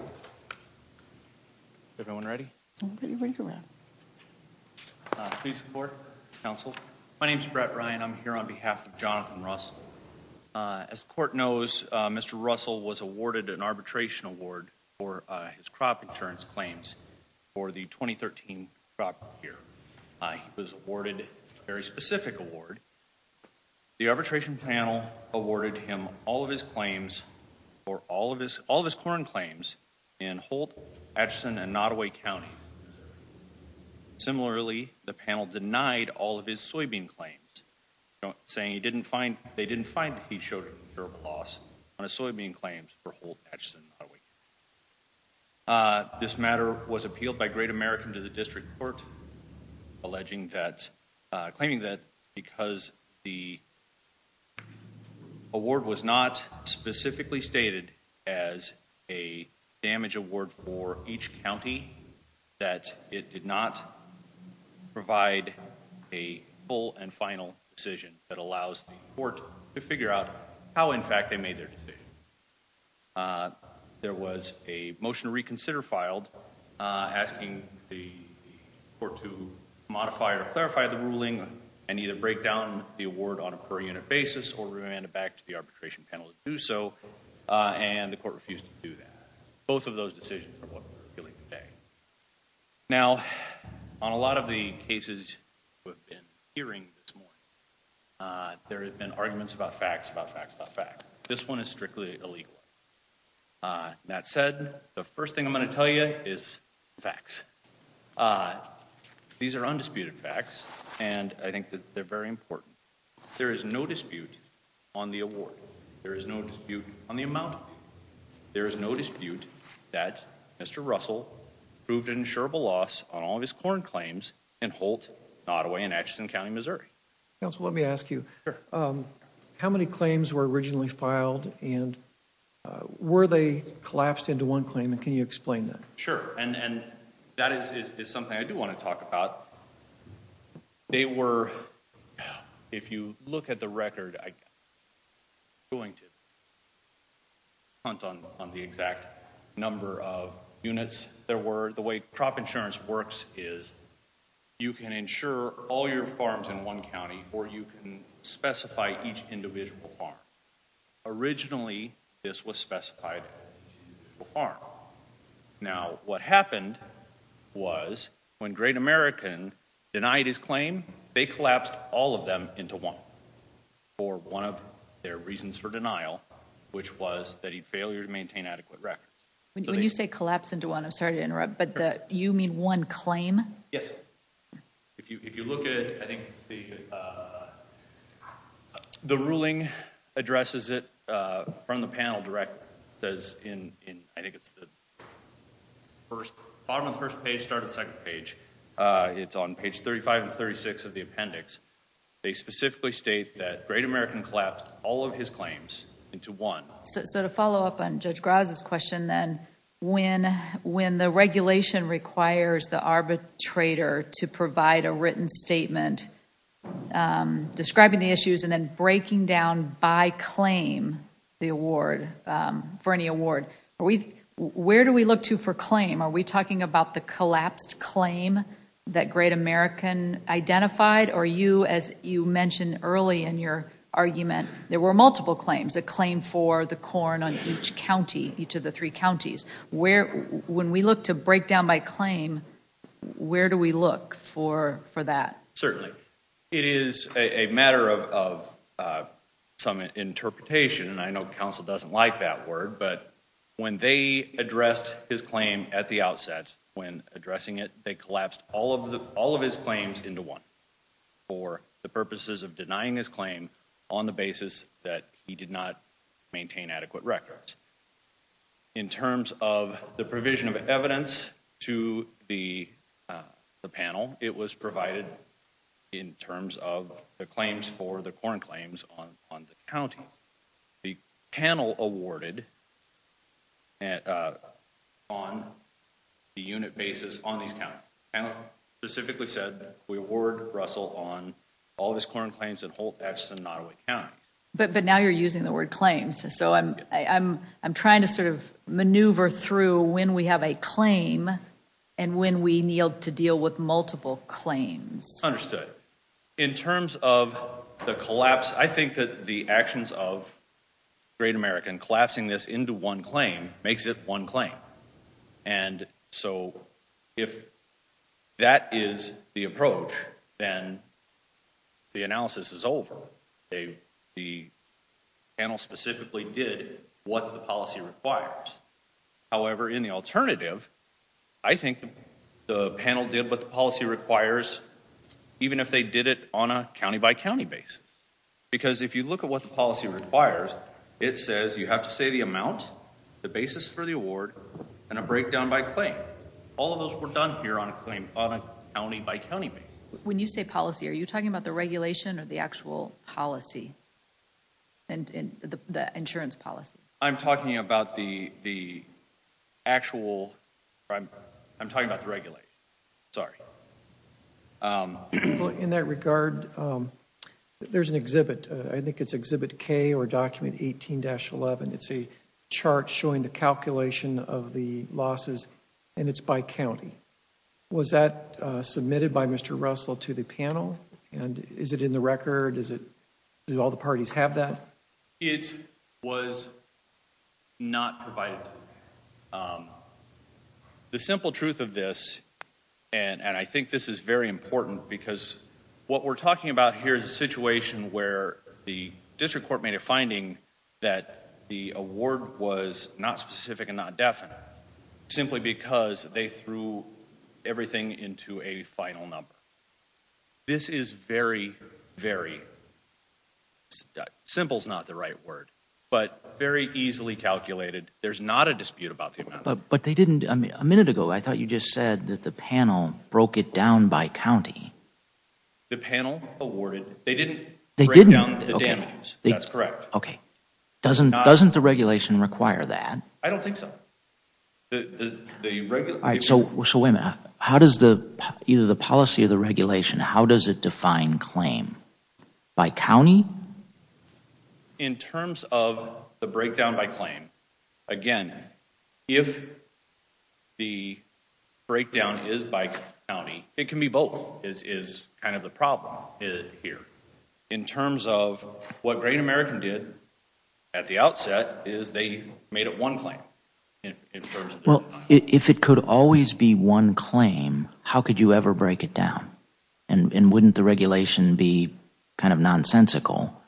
As the Court knows, Mr. Russell was awarded an arbitration award for his crop insurance claims for the 2013 crop year. He was awarded a very specific award. The arbitration panel awarded him all of his corn claims in Holt, Atchison, and Nottoway Counties. Similarly, the panel denied all of his soybean claims, saying they didn't find that he showed durable loss on his soybean claims for Holt, Atchison, and Nottoway Counties. This matter was appealed by Great American to the District Court, claiming that because the award was not specifically stated as a damage award for each county, that it did not provide a full and final decision that allows the Court to figure out how in fact they made their decision. There was a motion to reconsider filed asking the Court to modify or clarify the ruling and either break down the award on a per-unit basis or remand it back to the arbitration panel to do so, and the Court refused to do that. Both of those decisions are what we're appealing today. Now on a lot of the cases we've been hearing this morning, there have been arguments about facts about facts about facts. This one is strictly illegal. That said, the first thing I'm going to tell you is facts. These are undisputed facts, and I think that they're very important. There is no dispute on the award. There is no dispute on the amount. There is no dispute that Mr. Russell proved an insurable loss on all of his corn claims in Holt, Nottoway, and Atchison County, Missouri. Counsel, let me ask you. How many claims were originally filed, and were they collapsed into one claim, and can you explain that? Sure, and that is something I do want to talk about. They were, if you look at the record, I'm not going to count on the exact number of units there were. The way crop insurance works is you can insure all your farms in one county, or you can specify each individual farm. Originally this was specified as an individual farm. Now what happened was when Great American denied his claim, they collapsed all of them into one for one of their reasons for denial, which was that he failed to maintain adequate records. When you say collapsed into one, I'm sorry to interrupt, but you mean one claim? Yes. If you look at it, I think the ruling addresses it from the panel direct, says in, I think it's the bottom of the first page, start of the second page. It's on page 35 and 36 of the appendix. They specifically state that Great American collapsed all of his claims into one. To follow up on Judge Graza's question then, when the regulation requires the arbitrator to provide a written statement describing the issues and then breaking down by claim the award, for any award, where do we look to for claim? Are we talking about the collapsed claim that Great American identified or you, as you mentioned early in your argument, there were multiple claims. A claim for the corn on each county, each of the three counties. When we look to break down by claim, where do we look for that? Certainly. It is a matter of some interpretation, and I know counsel doesn't like that word, but when they addressed his claim at the outset, when addressing it, they collapsed all of his claims into one for the purposes of denying his claim on the basis that he did not maintain adequate records. In terms of the provision of evidence to the panel, it was provided in terms of the claims for the corn claims on the counties. The panel awarded on the unit basis on these counties. The panel specifically said we award Russell on all of his corn claims in Holt, Atchison, and Nottowick Counties. But now you're using the word claims, so I'm trying to sort of maneuver through when we have a claim and when we need to deal with multiple claims. Understood. In terms of the collapse, I think that the actions of Great American, collapsing this into one claim, makes it one claim. And so if that is the approach, then the analysis is over. The panel specifically did what the policy requires. However, in the alternative, I think the panel did what the policy requires, even if they did it on a county-by-county basis. Because if you look at what the policy requires, it says you have to say the amount, the basis for the award, and a breakdown by claim. All of those were done here on a claim on a county-by-county basis. When you say policy, are you talking about the regulation or the actual policy, the insurance policy? I'm talking about the actual, I'm talking about the regulation, sorry. In that regard, there's an exhibit, I think it's exhibit K or document 18-11, it's a chart showing the calculation of the losses, and it's by county. Was that submitted by Mr. Russell to the panel, and is it in the record, does all the parties have that? It was not provided to them. The simple truth of this, and I think this is very important, because what we're talking about here is a situation where the district court made a finding that the award was not specific and not definite, simply because they threw everything into a final number. This is very, very, simple is not the right word, but very easily calculated. There's not a dispute about the amount. But they didn't, a minute ago, I thought you just said that the panel broke it down by county. The panel awarded, they didn't break down the damages, that's correct. Okay. Doesn't the regulation require that? I don't think so. So wait a minute, how does the policy of the regulation, how does it define claim? By county? In terms of the breakdown by claim, again, if the breakdown is by county, it can be both is kind of the problem here. In terms of what Great American did, at the outset, is they made it one claim. If it could always be one claim, how could you ever break it down? And wouldn't the regulation be kind of nonsensical?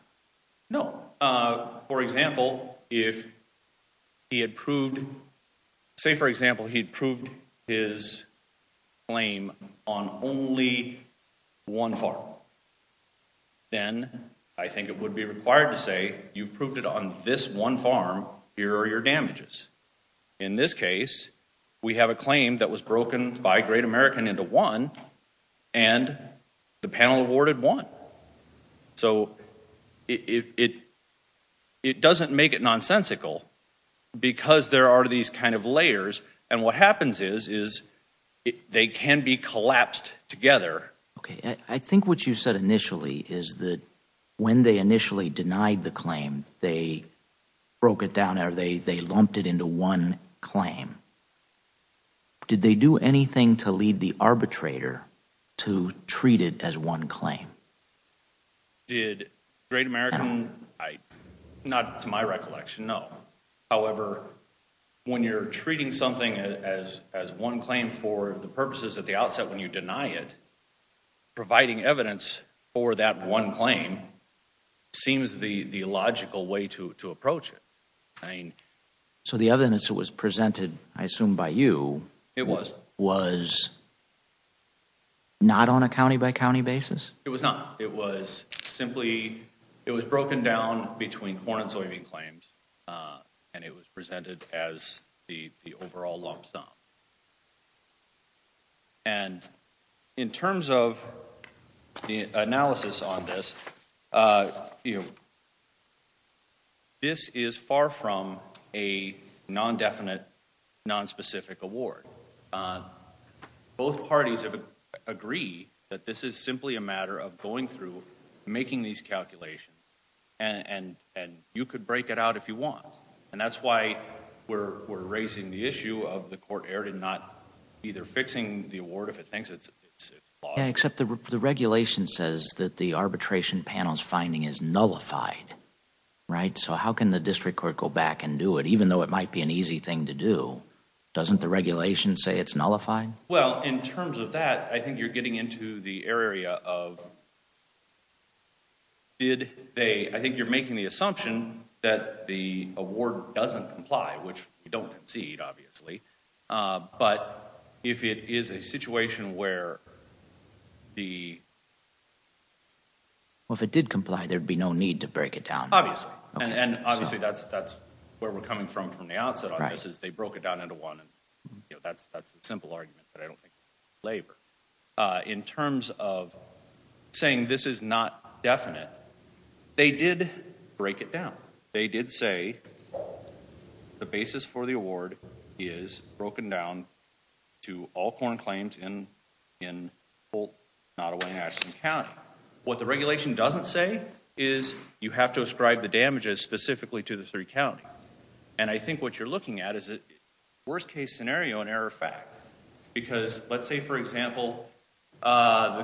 No. For example, if he had proved, say for example, he proved his claim on only one farm, then I think it would be required to say, you proved it on this one farm, here are your damages. In this case, we have a claim that was broken by Great American into one, and the panel awarded one. So, it doesn't make it nonsensical, because there are these kind of layers, and what happens is they can be collapsed together. I think what you said initially is that when they initially denied the claim, they broke it down or they lumped it into one claim. Did they do anything to lead the arbitrator to treat it as one claim? Did Great American, not to my recollection, no. However, when you're treating something as one claim for the purposes at the outset when you deny it, providing evidence for that one claim seems the logical way to approach it. So the evidence that was presented, I assume by you, was not on a county by county basis? It was not. It was simply, it was broken down between corn and soybean claims, and it was presented as the overall lump sum. And, in terms of the analysis on this, this is far from a non-definite, non-specific award. Both parties agree that this is simply a matter of going through, making these calculations, and you could break it out if you want. And that's why we're raising the issue of the court error in not either fixing the award if it thinks it's flawed. Except the regulation says that the arbitration panel's finding is nullified, right? So how can the district court go back and do it, even though it might be an easy thing to do? Doesn't the regulation say it's nullified? Well, in terms of that, I think you're getting into the area of, did they, I think you're getting into the assumption that the award doesn't comply, which we don't concede, obviously. But if it is a situation where the... Well, if it did comply, there'd be no need to break it down. Obviously. And obviously, that's where we're coming from from the outset on this, is they broke it down into one, and that's a simple argument that I don't think would be in favor. In terms of saying this is not definite, they did break it down. They did say the basis for the award is broken down to all corn claims in Colt, Nottaway, and Ashton County. What the regulation doesn't say is you have to ascribe the damages specifically to the three counties. And I think what you're looking at is a worst-case scenario and error fact. Because let's say, for example, the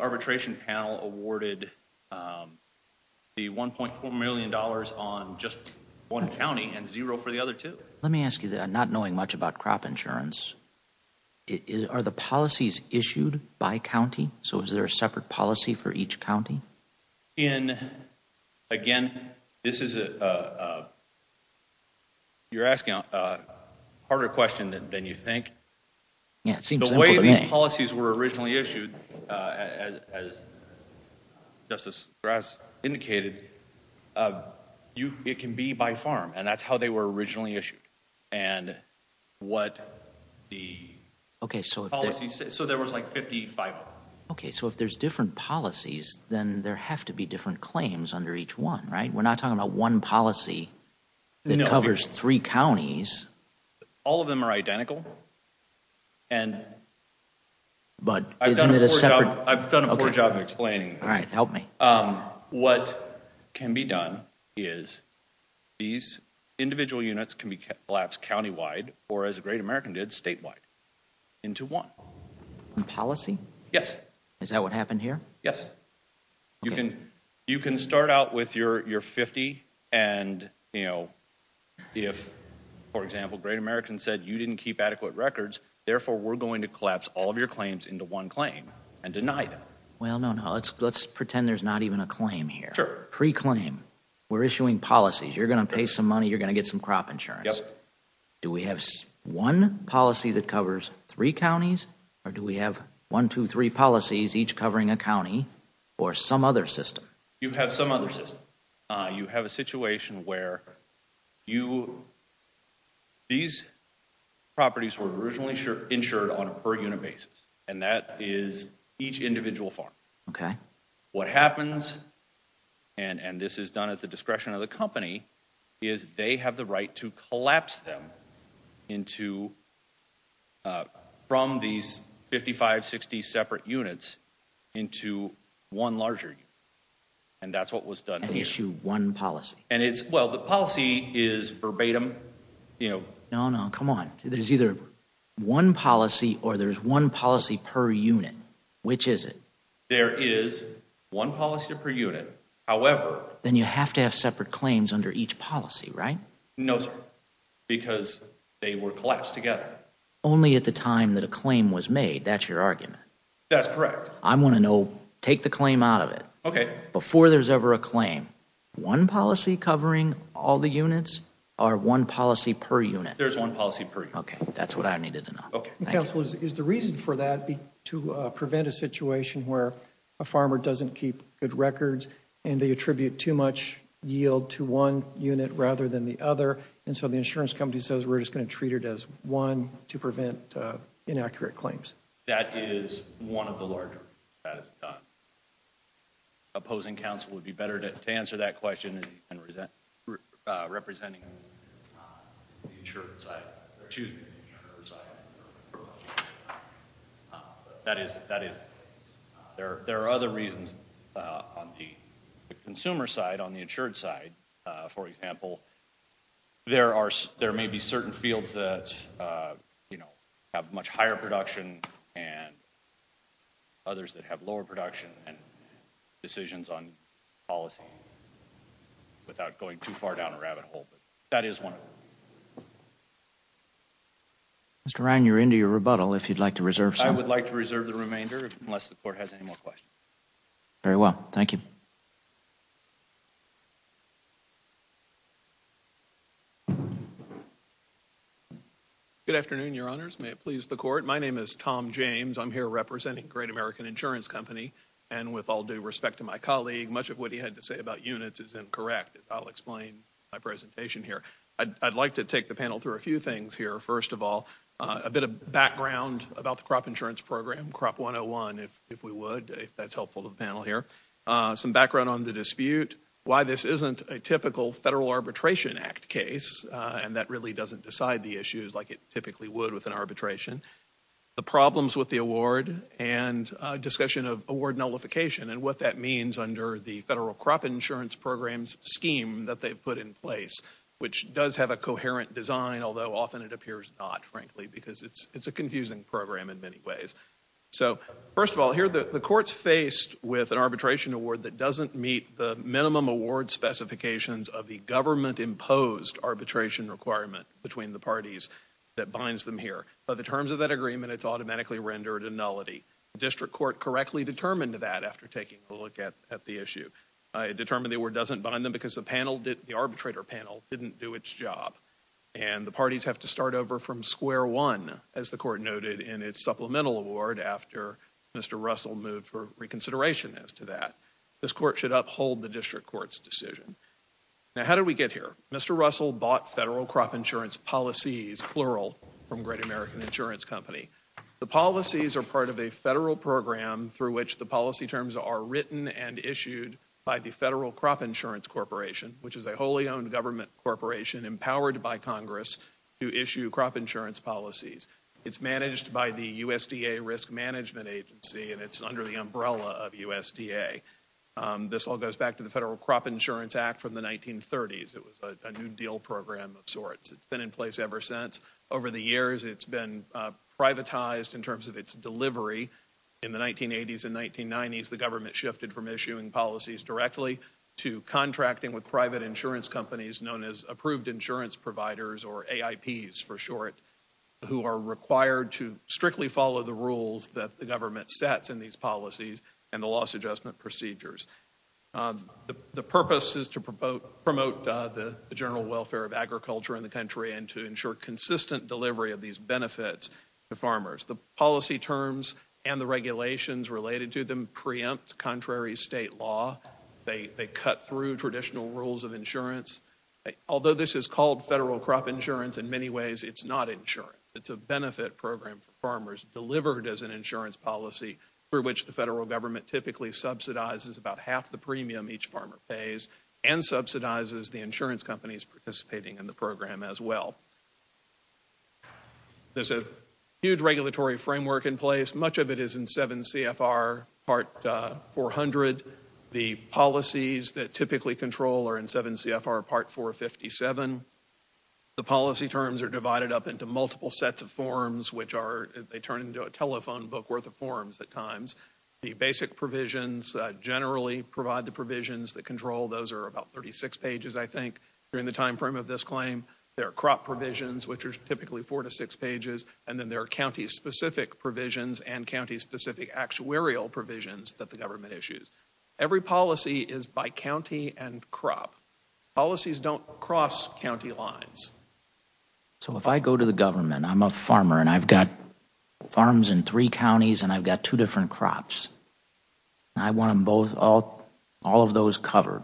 arbitration panel awarded the $1.4 million on just one county and zero for the other two. Let me ask you, not knowing much about crop insurance, are the policies issued by county? So is there a separate policy for each county? Again, you're asking a harder question than you think. The way these policies were originally issued, as Justice Grass indicated, it can be by farm, and that's how they were originally issued. So there was like 55 of them. So if there's different policies, then there have to be different claims under each one, right? We're not talking about one policy that covers three counties. All of them are identical. But isn't it a separate? I've done a poor job of explaining this. What can be done is these individual units can be collapsed countywide, or as the great American did, statewide into one. Policy? Yes. Is that what happened here? Yes. Okay. You can start out with your 50, and if, for example, great American said you didn't keep adequate records, therefore we're going to collapse all of your claims into one claim and deny them. Well, no, no. Let's pretend there's not even a claim here. Pre-claim, we're issuing policies. You're going to pay some money. You're going to get some crop insurance. Do we have one policy that covers three counties, or do we have one, two, three policies each covering a county or some other system? You have some other system. You have a situation where these properties were originally insured on a per unit basis, and that is each individual farm. What happens, and this is done at the discretion of the company, is they have the right to collapse them from these 55, 60 separate units into one larger unit, and that's what was done here. And issue one policy. And it's, well, the policy is verbatim, you know. No, no. Come on. There's either one policy or there's one policy per unit. Which is it? There is one policy per unit. However. Then you have to have separate claims under each policy, right? No, sir. Because they were collapsed together. Only at the time that a claim was made. That's your argument. That's correct. I want to know. Take the claim out of it. Okay. Before there's ever a claim. One policy covering all the units, or one policy per unit? There's one policy per unit. Okay. That's what I needed to know. Okay. Counsel, is the reason for that to prevent a situation where a farmer doesn't keep good other. And so the insurance company says, we're just going to treat it as one to prevent inaccurate claims. That is one of the larger. Opposing counsel would be better to answer that question than representing the insured side. That is. That is. There are other reasons on the consumer side, on the insured side. For example, there are, there may be certain fields that, you know, have much higher production and others that have lower production and decisions on policy. Without going too far down a rabbit hole. That is one. Mr. Ryan, you're into your rebuttal. If you'd like to reserve some. I would like to reserve the remainder, unless the court has any more questions. Very well. Thank you. Good afternoon, your honors. May it please the court. My name is Tom James. I'm here representing Great American Insurance Company. And with all due respect to my colleague, much of what he had to say about units is incorrect. I'll explain my presentation here. I'd like to take the panel through a few things here. First of all, I'm not going to go into too much detail. I'm just going to say a few things. Crop 101, if we would, if that's helpful to the panel here. Some background on the dispute. Why this isn't a typical Federal Arbitration Act case, and that really doesn't decide the issues like it typically would with an arbitration. The problems with the award and discussion of award nullification and what that means under the Federal Crop Insurance Program's scheme that they've put in place, which does have a coherent design, although often it appears not, frankly, because it's a confusing program in many ways. So first of all, here the court's faced with an arbitration award that doesn't meet the minimum award specifications of the government-imposed arbitration requirement between the parties that binds them here. By the terms of that agreement, it's automatically rendered a nullity. The district court correctly determined that after taking a look at the issue. It determined the award doesn't bind them because the panel, the arbitrator panel, didn't do its job. And the parties have to start over from square one, as the court noted in its supplemental award after Mr. Russell moved for reconsideration as to that. This court should uphold the district court's decision. Now, how did we get here? Mr. Russell bought Federal Crop Insurance Policies, plural, from Great American Insurance Company. The policies are part of a federal program through which the policy terms are written and issued by the Federal Crop Insurance Corporation, which is a wholly owned government corporation empowered by Congress to issue crop insurance policies. It's managed by the USDA Risk Management Agency, and it's under the umbrella of USDA. This all goes back to the Federal Crop Insurance Act from the 1930s. It was a New Deal program of sorts. It's been in place ever since. Over the years, it's been privatized in terms of its delivery. In the 1980s and 1990s, the government shifted from issuing policies directly to contracting with private insurance companies known as approved insurance providers or AIPs for short, who are required to strictly follow the rules that the government sets in these policies and the loss adjustment procedures. The purpose is to promote the general welfare of agriculture in the country and to ensure consistent delivery of these benefits to farmers. The policy terms and the regulations related to them preempt contrary state law. They cut through traditional rules of insurance. Although this is called federal crop insurance, in many ways, it's not insurance. It's a benefit program for farmers delivered as an insurance policy through which the federal government typically subsidizes about half the premium each farmer pays and subsidizes the insurance companies participating in the program as well. There's a huge regulatory framework in place. Much of it is in 7 CFR Part 400. The policies that typically control are in 7 CFR Part 457. The policy terms are divided up into multiple sets of forms, which are, they turn into a telephone book worth of forms at times. The basic provisions generally provide the provisions that control. Those are about 36 pages, I think, during the timeframe of this claim. There are crop provisions, which are typically four to six pages. And then there are county-specific provisions and county-specific actuarial provisions that the government issues. Every policy is by county and crop. Policies don't cross county lines. So if I go to the government, I'm a farmer, and I've got farms in three counties, and I've got two different crops, and I want them both, all of those covered.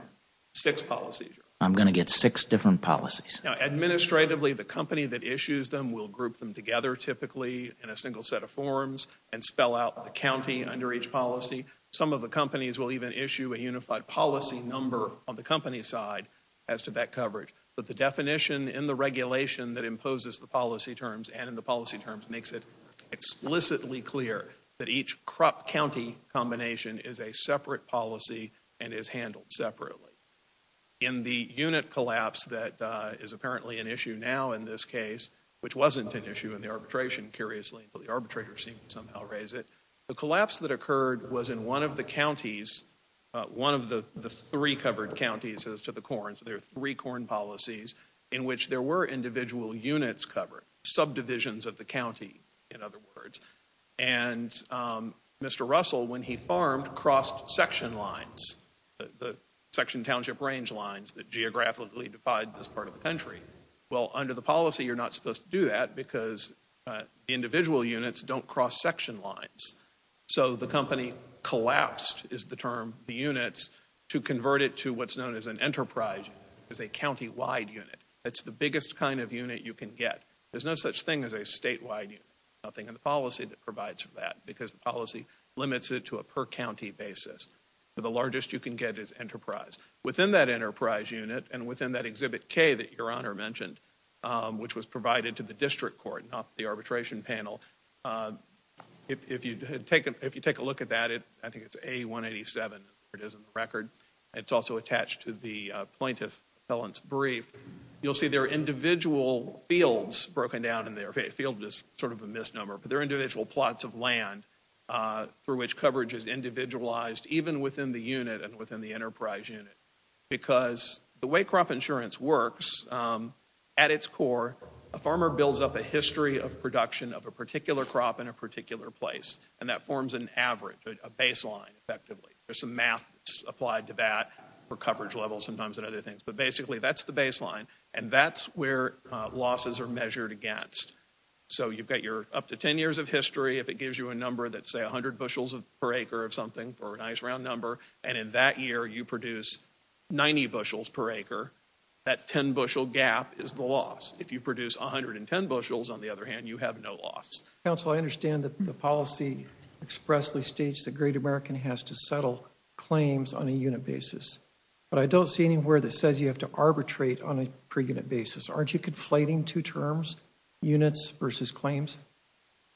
Six policies. I'm going to get six different policies. Now, administratively, the company that issues them will group them together typically in a single set of forms and spell out the county under each policy. Some of the companies will even issue a unified policy number on the company's side as to that coverage. But the definition in the regulation that imposes the policy terms and in the policy terms makes it explicitly clear that each crop-county combination is a separate policy and is handled separately. In the unit collapse that is apparently an issue now in this case, which wasn't an issue in the arbitration, curiously, but the arbitrators seem to somehow raise it, the collapse that occurred was in one of the counties, one of the three covered counties as to the corns. There are three corn policies in which there were individual units covered, subdivisions of the county, in other words. And Mr. Russell, when he farmed, crossed section lines, the section township range lines that geographically divide this part of the country. Well, under the policy, you're not supposed to do that because individual units don't cross section lines. So the company collapsed is the term, the units, to convert it to what's known as an enterprise as a county-wide unit. That's the biggest kind of unit you can get. There's no such thing as a state-wide unit, nothing in the policy that provides for that because the policy limits it to a per-county basis. The largest you can get is enterprise. Within that enterprise unit and within that Exhibit K that Your Honor mentioned, which was provided to the district court, not the arbitration panel, if you take a look at that, I think it's A187, it's in the record, it's also attached to the plaintiff's brief, you'll see there are individual fields broken down in there, field is sort of a misnomer, but there are individual plots of land through which coverage is individualized even within the unit and within the enterprise unit. Because the way crop insurance works, at its core, a farmer builds up a history of production of a particular crop in a particular place, and that forms an average, a baseline, effectively. There's some math applied to that for coverage levels sometimes and other things, but basically that's the baseline, and that's where losses are measured against. So you've got your up to 10 years of history, if it gives you a number that's say 100 bushels per acre of something for a nice round number, and in that year you produce 90 bushels per acre, that 10 bushel gap is the loss. If you produce 110 bushels, on the other hand, you have no loss. Counsel, I understand that the policy expressly states that Great American has to settle claims on a unit basis, but I don't see anywhere that says you have to arbitrate on a per unit basis. Aren't you conflating two terms, units versus claims?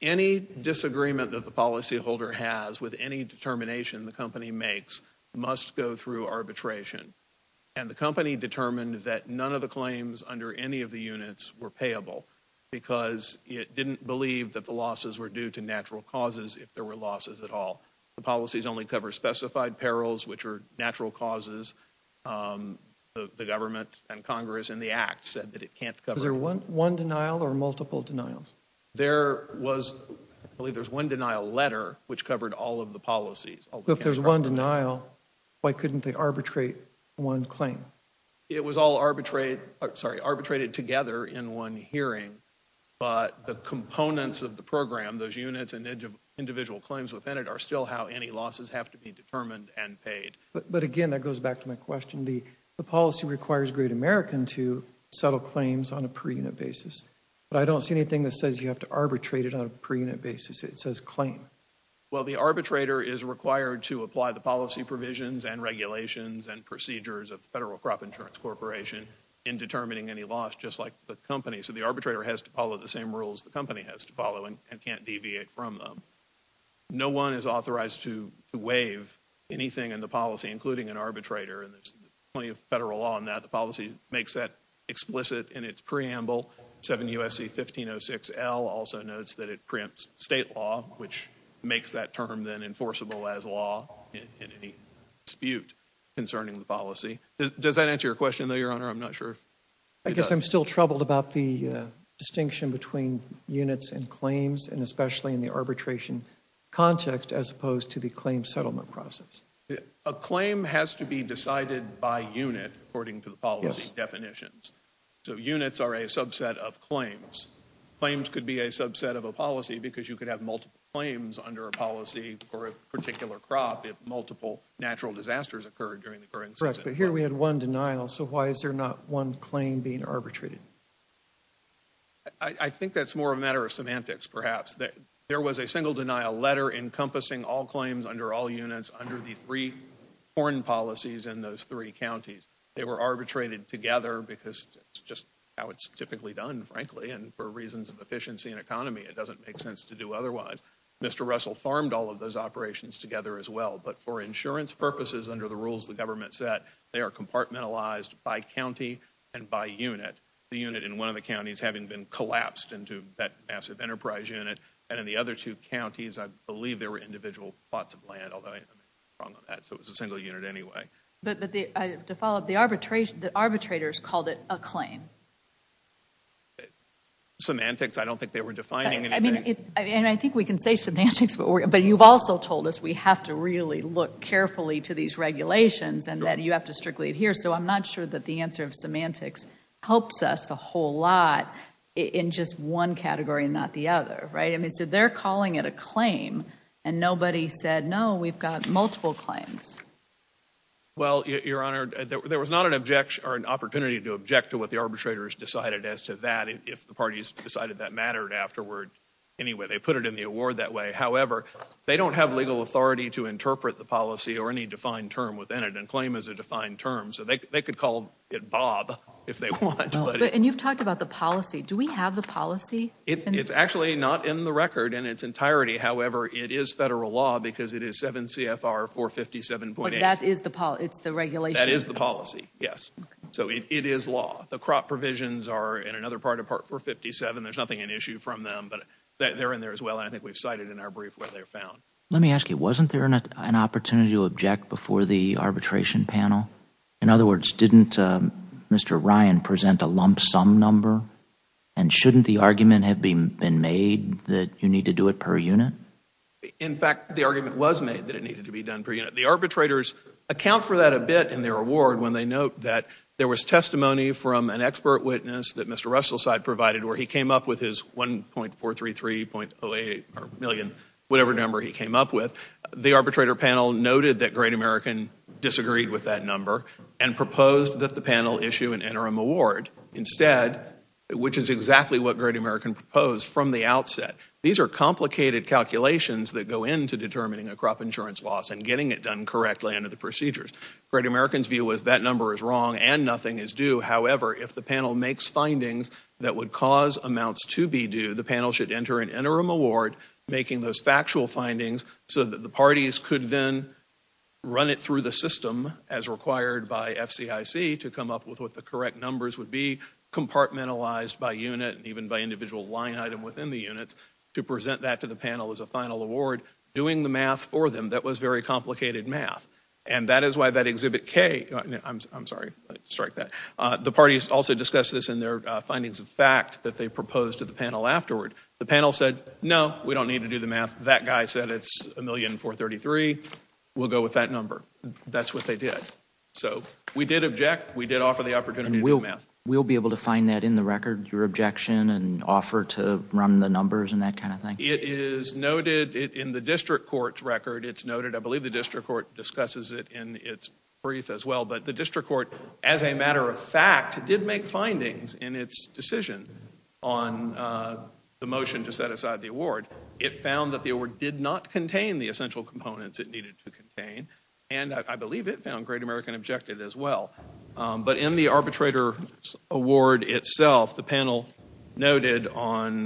Any disagreement that the policyholder has with any determination the company makes must go through arbitration. And the company determined that none of the claims under any of the units were payable, because it didn't believe that the losses were due to natural causes, if there were losses at all. The policies only cover specified perils, which are natural causes. The government and Congress in the Act said that it can't cover- Is there one denial or multiple denials? There was, I believe there's one denial letter, which covered all of the policies. If there's one denial, why couldn't they arbitrate one claim? It was all arbitrated together in one hearing, but the components of the program, those units and individual claims within it, are still how any losses have to be determined and paid. But again, that goes back to my question, the policy requires Great American to settle anything that says you have to arbitrate it on a per-unit basis. It says claim. Well, the arbitrator is required to apply the policy provisions and regulations and procedures of the Federal Crop Insurance Corporation in determining any loss, just like the company. So the arbitrator has to follow the same rules the company has to follow and can't deviate from them. No one is authorized to waive anything in the policy, including an arbitrator, and there's plenty of federal law on that. The policy makes that explicit in its preamble, 7 U.S.C. 1506L also notes that it preempts state law, which makes that term then enforceable as law in any dispute concerning the policy. Does that answer your question, though, Your Honor? I'm not sure if it does. I guess I'm still troubled about the distinction between units and claims, and especially in the arbitration context, as opposed to the claim settlement process. A claim has to be decided by unit, according to the policy definitions. So units are a subset of claims. Claims could be a subset of a policy because you could have multiple claims under a policy for a particular crop if multiple natural disasters occurred during the current season. Correct, but here we had one denial, so why is there not one claim being arbitrated? I think that's more a matter of semantics, perhaps. There was a single denial letter encompassing all claims under all units under the three foreign policies in those three counties. They were arbitrated together because it's just how it's typically done, frankly, and for reasons of efficiency and economy, it doesn't make sense to do otherwise. Mr. Russell farmed all of those operations together as well, but for insurance purposes under the rules the government set, they are compartmentalized by county and by unit. The unit in one of the counties having been collapsed into that massive enterprise unit, and in the other two counties I believe there were individual plots of land, although I don't think I'm wrong on that, so it was a single unit anyway. But to follow up, the arbitrators called it a claim. Semantics? I don't think they were defining anything. I mean, and I think we can say semantics, but you've also told us we have to really look carefully to these regulations and that you have to strictly adhere, so I'm not sure that the answer of semantics helps us a whole lot in just one category and not the other, right? I mean, so they're calling it a claim, and nobody said, no, we've got multiple claims. Well, Your Honor, there was not an objection or an opportunity to object to what the arbitrators decided as to that if the parties decided that mattered afterward anyway. They put it in the award that way. However, they don't have legal authority to interpret the policy or any defined term within it. And claim is a defined term, so they could call it Bob if they want. And you've talked about the policy. Do we have the policy? It's actually not in the record in its entirety. However, it is federal law because it is 7 CFR 457.8. That is the policy. It's the regulation. That is the policy. Yes. So it is law. The crop provisions are in another part of Part 457. There's nothing an issue from them, but they're in there as well, and I think we've cited in our brief what they found. Let me ask you, wasn't there an opportunity to object before the arbitration panel? In other words, didn't Mr. Ryan present a lump sum number? And shouldn't the argument have been made that you need to do it per unit? In fact, the argument was made that it needed to be done per unit. The arbitrators account for that a bit in their award when they note that there was testimony from an expert witness that Mr. Russell's side provided where he came up with his 1.433.08 million, whatever number he came up with. The arbitrator panel noted that Great American disagreed with that number and proposed that the panel issue an interim award instead, which is exactly what Great American proposed from the outset. These are complicated calculations that go into determining a crop insurance loss and getting it done correctly under the procedures. Great American's view was that number is wrong and nothing is due. To be due, the panel should enter an interim award, making those factual findings so that the parties could then run it through the system as required by FCIC to come up with what the correct numbers would be, compartmentalized by unit and even by individual line item within the units to present that to the panel as a final award, doing the math for them. That was very complicated math. And that is why that Exhibit K, I'm sorry, let me strike that, the parties also discussed this in their findings of fact that they proposed to the panel afterward. The panel said, no, we don't need to do the math. That guy said it's 1.433.08 million. We'll go with that number. That's what they did. So we did object. We did offer the opportunity to do math. We'll be able to find that in the record, your objection and offer to run the numbers and that kind of thing? It is noted in the district court's record. It's noted, I believe the district court discusses it in its brief as well. But the district court, as a matter of fact, did make findings in its decision on the motion to set aside the award. It found that the award did not contain the essential components it needed to contain. And I believe it found Great American objected as well. But in the arbitrator's award itself, the panel noted on,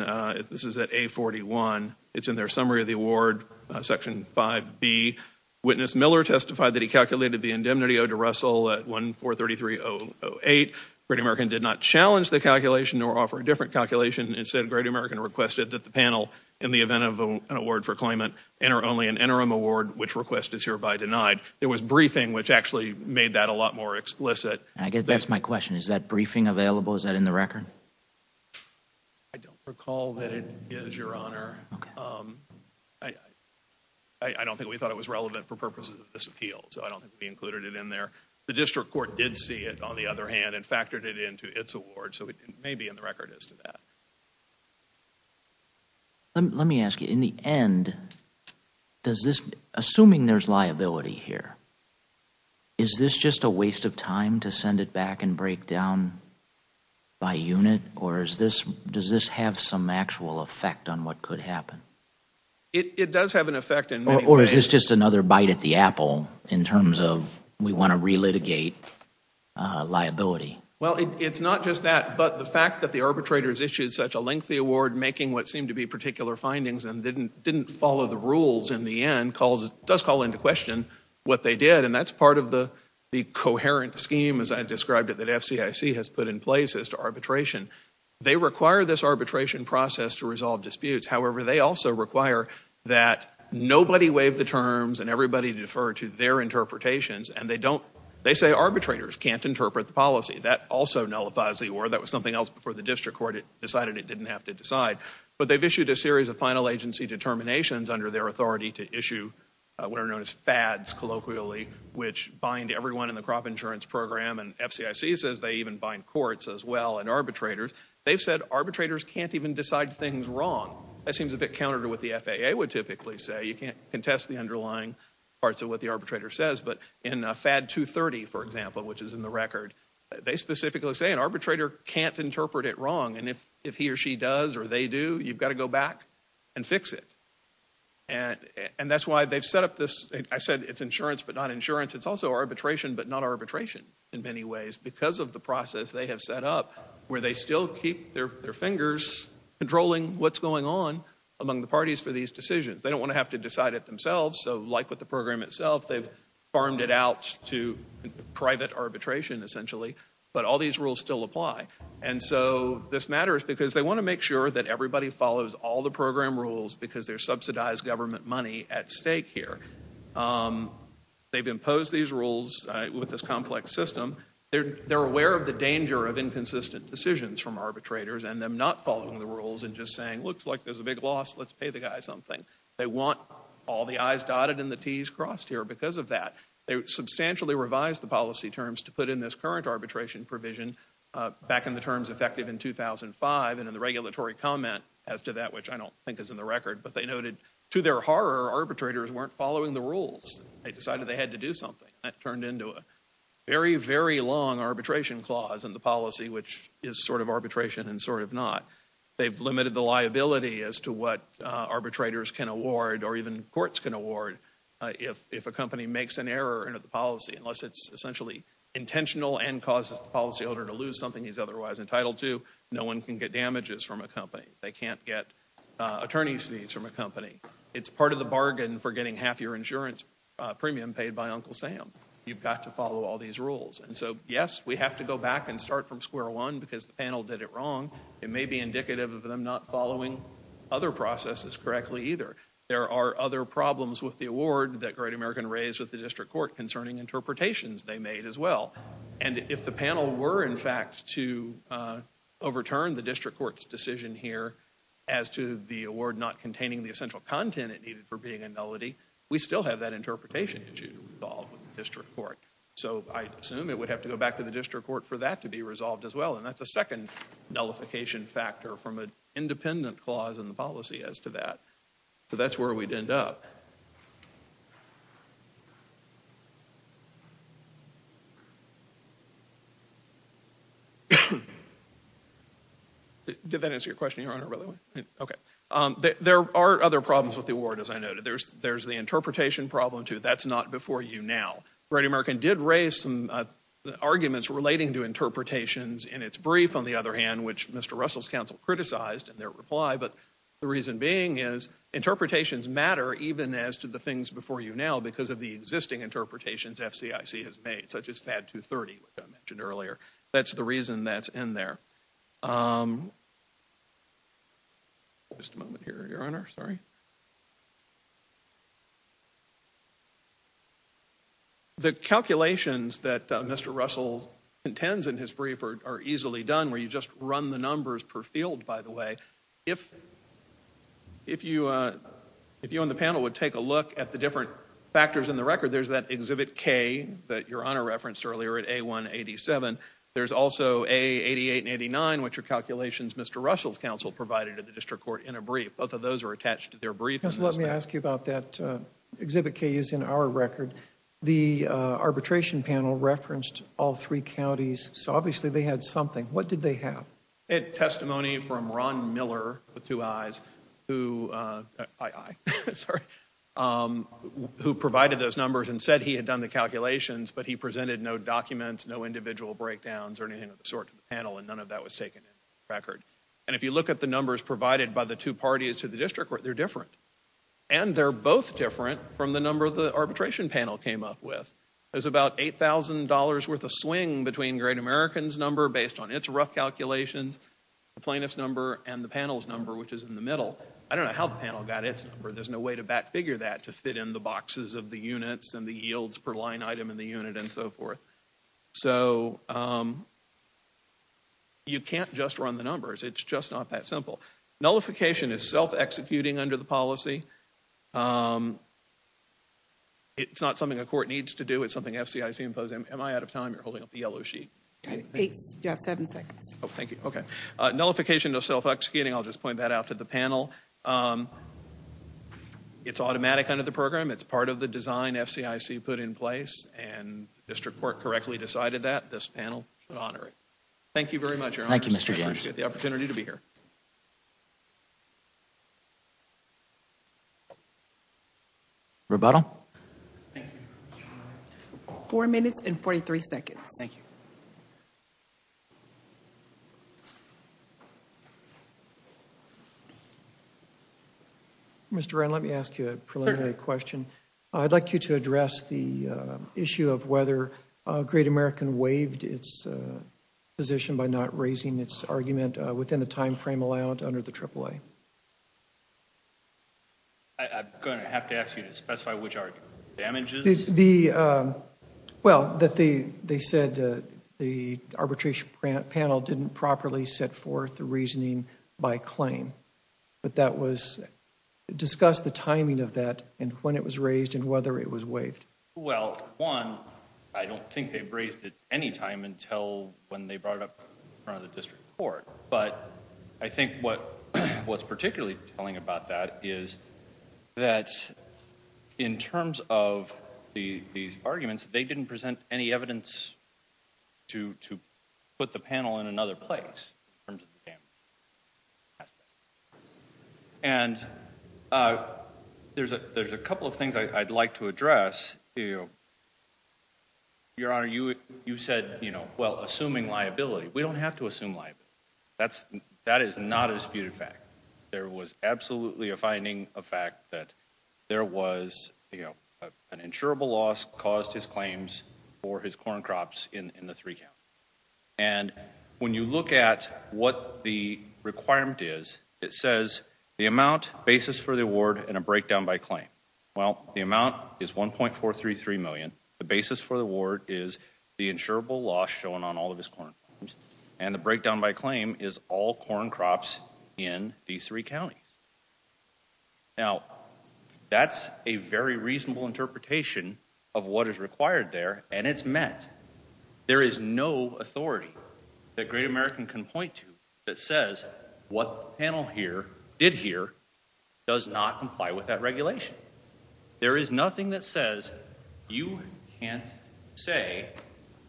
this is at A41, it's in their summary of the award, Section 5B, witness Miller testified that he calculated the indemnity to Russell at 1.433.08. Great American did not challenge the calculation or offer a different calculation. Instead, Great American requested that the panel, in the event of an award for claimant, enter only an interim award, which request is hereby denied. There was briefing, which actually made that a lot more explicit. I guess that's my question. Is that briefing available? Is that in the record? I don't recall that it is, your honor. I don't think we thought it was relevant for purposes of this appeal, so I don't think we factored it in there. The district court did see it, on the other hand, and factored it into its award, so it may be in the record as to that. Let me ask you, in the end, assuming there's liability here, is this just a waste of time to send it back and break down by unit? Or does this have some actual effect on what could happen? It does have an effect in many ways. Or is this just another bite at the apple in terms of we want to re-litigate liability? Well, it's not just that, but the fact that the arbitrators issued such a lengthy award making what seemed to be particular findings and didn't follow the rules in the end does call into question what they did, and that's part of the coherent scheme, as I described it, that FCIC has put in place as to arbitration. They require this arbitration process to resolve disputes. However, they also require that nobody waive the terms and everybody defer to their interpretations, and they say arbitrators can't interpret the policy. That also nullifies the award. That was something else before the district court decided it didn't have to decide. But they've issued a series of final agency determinations under their authority to issue what are known as FADs, colloquially, which bind everyone in the crop insurance program, and FCIC says they even bind courts as well and arbitrators. They've said arbitrators can't even decide things wrong. That seems a bit counter to what the FAA would typically say. You can't contest the underlying parts of what the arbitrator says, but in FAD 230, for example, which is in the record, they specifically say an arbitrator can't interpret it wrong, and if he or she does or they do, you've got to go back and fix it. And that's why they've set up this, I said it's insurance, but not insurance. It's also arbitration, but not arbitration in many ways because of the process they have set up, where they still keep their fingers controlling what's going on among the parties for these decisions. They don't want to have to decide it themselves. So like with the program itself, they've farmed it out to private arbitration, essentially, but all these rules still apply. And so this matters because they want to make sure that everybody follows all the program rules because there's subsidized government money at stake here. They've imposed these rules with this complex system. They're aware of the danger of inconsistent decisions from arbitrators and them not following the rules and just saying, looks like there's a big loss, let's pay the guy something. They want all the I's dotted and the T's crossed here because of that. They substantially revised the policy terms to put in this current arbitration provision back in the terms effective in 2005, and in the regulatory comment as to that, which I don't think is in the record, but they noted to their horror, arbitrators weren't following the rules. They decided they had to do something. That turned into a very, very long arbitration clause in the policy, which is sort of arbitration and sort of not. They've limited the liability as to what arbitrators can award or even courts can award if a company makes an error in the policy, unless it's essentially intentional and causes the policy holder to lose something he's otherwise entitled to. No one can get damages from a company. They can't get attorney's fees from a company. It's part of the bargain for getting half your insurance premium paid by Uncle Sam. You've got to follow all these rules. And so, yes, we have to go back and start from square one because the panel did it wrong. It may be indicative of them not following other processes correctly either. There are other problems with the award that Great American raised with the district court concerning interpretations they made as well. And if the panel were, in fact, to overturn the district court's decision here as to the content it needed for being a nullity, we still have that interpretation issue to resolve with the district court. So I assume it would have to go back to the district court for that to be resolved as well. And that's a second nullification factor from an independent clause in the policy as to that. So that's where we'd end up. Did that answer your question, Your Honor, by the way? No? Okay. There are other problems with the award, as I noted. There's the interpretation problem, too. That's not before you now. Great American did raise some arguments relating to interpretations in its brief, on the other hand, which Mr. Russell's counsel criticized in their reply. But the reason being is interpretations matter even as to the things before you now because of the existing interpretations FCIC has made, such as FAD 230, which I mentioned earlier. That's the reason that's in there. The calculations that Mr. Russell intends in his brief are easily done where you just run the numbers per field, by the way. If you on the panel would take a look at the different factors in the record, there's that There's also A88 and A89, which are calculations Mr. Russell's counsel provided at the district court in a brief. Both of those are attached to their brief. Let me ask you about that. Exhibit K is in our record. The arbitration panel referenced all three counties, so obviously they had something. What did they have? They had testimony from Ron Miller, with two I's, who provided those numbers and said he had done the calculations, but he presented no documents, no individual breakdowns or anything of the sort to the panel, and none of that was taken into the record. And if you look at the numbers provided by the two parties to the district court, they're different. And they're both different from the number the arbitration panel came up with. There's about $8,000 worth of swing between Great American's number, based on its rough calculations, the plaintiff's number, and the panel's number, which is in the middle. I don't know how the panel got its number. There's no way to back figure that to fit in the boxes of the units and the yields per line item in the unit and so forth. So you can't just run the numbers. It's just not that simple. Nullification is self-executing under the policy. It's not something a court needs to do. It's something FCIC imposed. Am I out of time? You're holding up the yellow sheet. You have seven seconds. Oh, thank you. Okay. Nullification, no self-executing. I'll just point that out to the panel. It's automatic under the program. It's part of the design FCIC put in place, and the district court correctly decided that. This panel should honor it. Thank you very much, Your Honor. Thank you, Mr. James. I appreciate the opportunity to be here. Rebuttal? Thank you. Four minutes and 43 seconds. Thank you. Mr. Wrenn, let me ask you a preliminary question. I'd like you to address the issue of whether Great American waived its position by not raising its argument within the time frame allowed under the AAA. I'm going to have to ask you to specify which argument, damages? Well, they said the arbitration panel didn't properly set forth the reasoning by claim, but discuss the timing of that and when it was raised and whether it was waived. Well, one, I don't think they raised it any time until when they brought it up in front of the district court, but I think what's particularly telling about that is that in terms of these arguments, they didn't present any evidence to put the panel in another place in terms of the damage aspect. And there's a couple of things I'd like to address. Your Honor, you said, you know, well, assuming liability. We don't have to assume liability. That is not a disputed fact. There was absolutely a finding of fact that there was, you know, an insurable loss caused his claims for his corn crops in the three count. And when you look at what the requirement is, it says the amount, basis for the award and a breakdown by claim. Well, the amount is $1.433 million. The basis for the award is the insurable loss shown on all of his corn. And the breakdown by claim is all corn crops in these three counties. Now that's a very reasonable interpretation of what is required there. And it's met. There is no authority that great American can point to that says what panel here did here does not comply with that regulation. There is nothing that says you can't say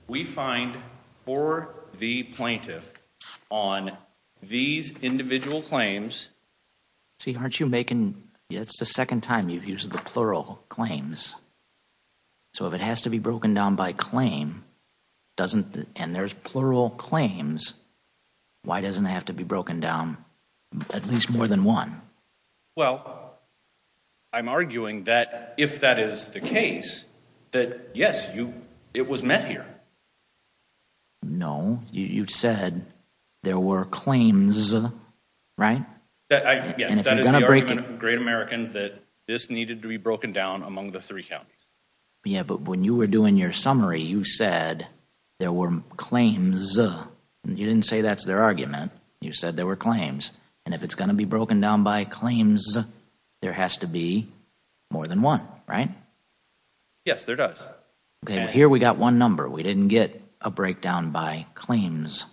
we find for the plaintiff on these individual claims. See, aren't you making it's the second time you've used the plural claims. So if it has to be broken down by claim, doesn't and there's plural claims. Why doesn't it have to be broken down at least more than one? Well, I'm arguing that if that is the case, that yes, you, it was met here. No, you said there were claims, right? That I guess that is a great American that this needed to be broken down among the three counties. Yeah. But when you were doing your summary, you said there were claims and you didn't say that's their argument. You said there were claims and if it's going to be broken down by claims, there has to be more than one, right? Yes, there does. OK, here we got one number. We didn't get a breakdown by claims.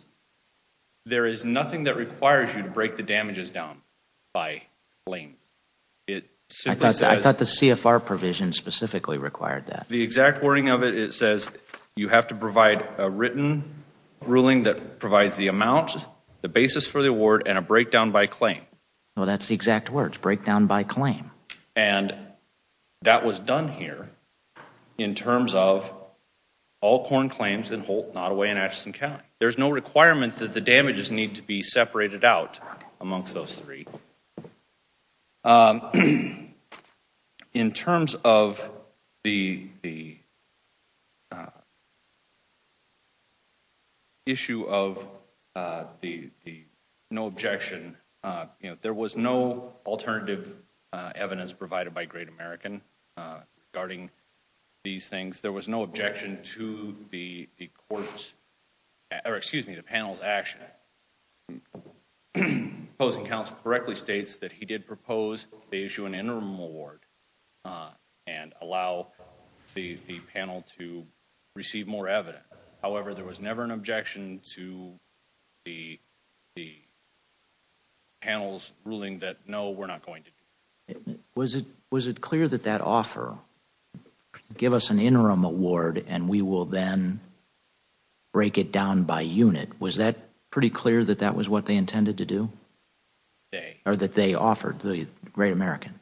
There is nothing that requires you to break the damages down by blame. It's I thought the CFR provision specifically required that the exact wording of it says you have to provide a written ruling that provides the amount, the basis for the award and a breakdown by claim. Well, that's the exact words breakdown by claim. And that was done here in terms of all corn claims and Holt, Nottoway and Atchison County. There's no requirement that the damages need to be separated out amongst those three. Um, in terms of the the. Issue of the the no objection, there was no alternative evidence provided by Great American guarding these things, there was no objection to the courts or excuse me, the proposed they issue an interim award and allow the panel to receive more evidence. However, there was never an objection to the the. Panels ruling that, no, we're not going to was it was it clear that that offer give us an interim award and we will then. Break it down by unit, was that pretty clear that that was what they intended to do? They are that they offered the Great American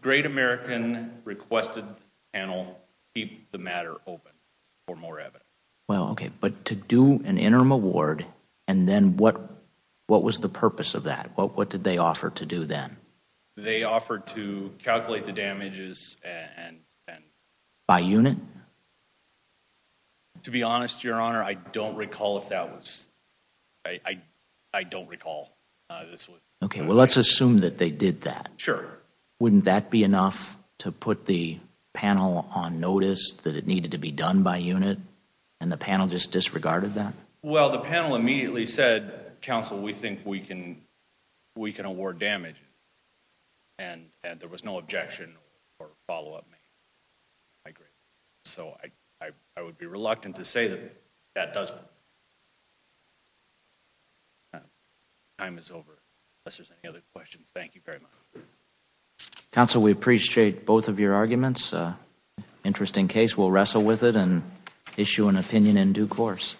Great American requested panel keep the matter open for more evidence. Well, OK, but to do an interim award and then what what was the purpose of that? Well, what did they offer to do then? They offered to calculate the damages and by unit. To be honest, your honor, I don't recall if that was I, I don't recall. OK, well, let's assume that they did that. Sure. Wouldn't that be enough to put the panel on notice that it needed to be done by unit and the panel just disregarded that? Well, the panel immediately said, counsel, we think we can we can award damage. And there was no objection or follow up. I agree, so I I would be reluctant to say that that does. But. Time is over, unless there's any other questions, thank you very much, counsel, we appreciate both of your arguments. Interesting case, we'll wrestle with it and issue an opinion in due course.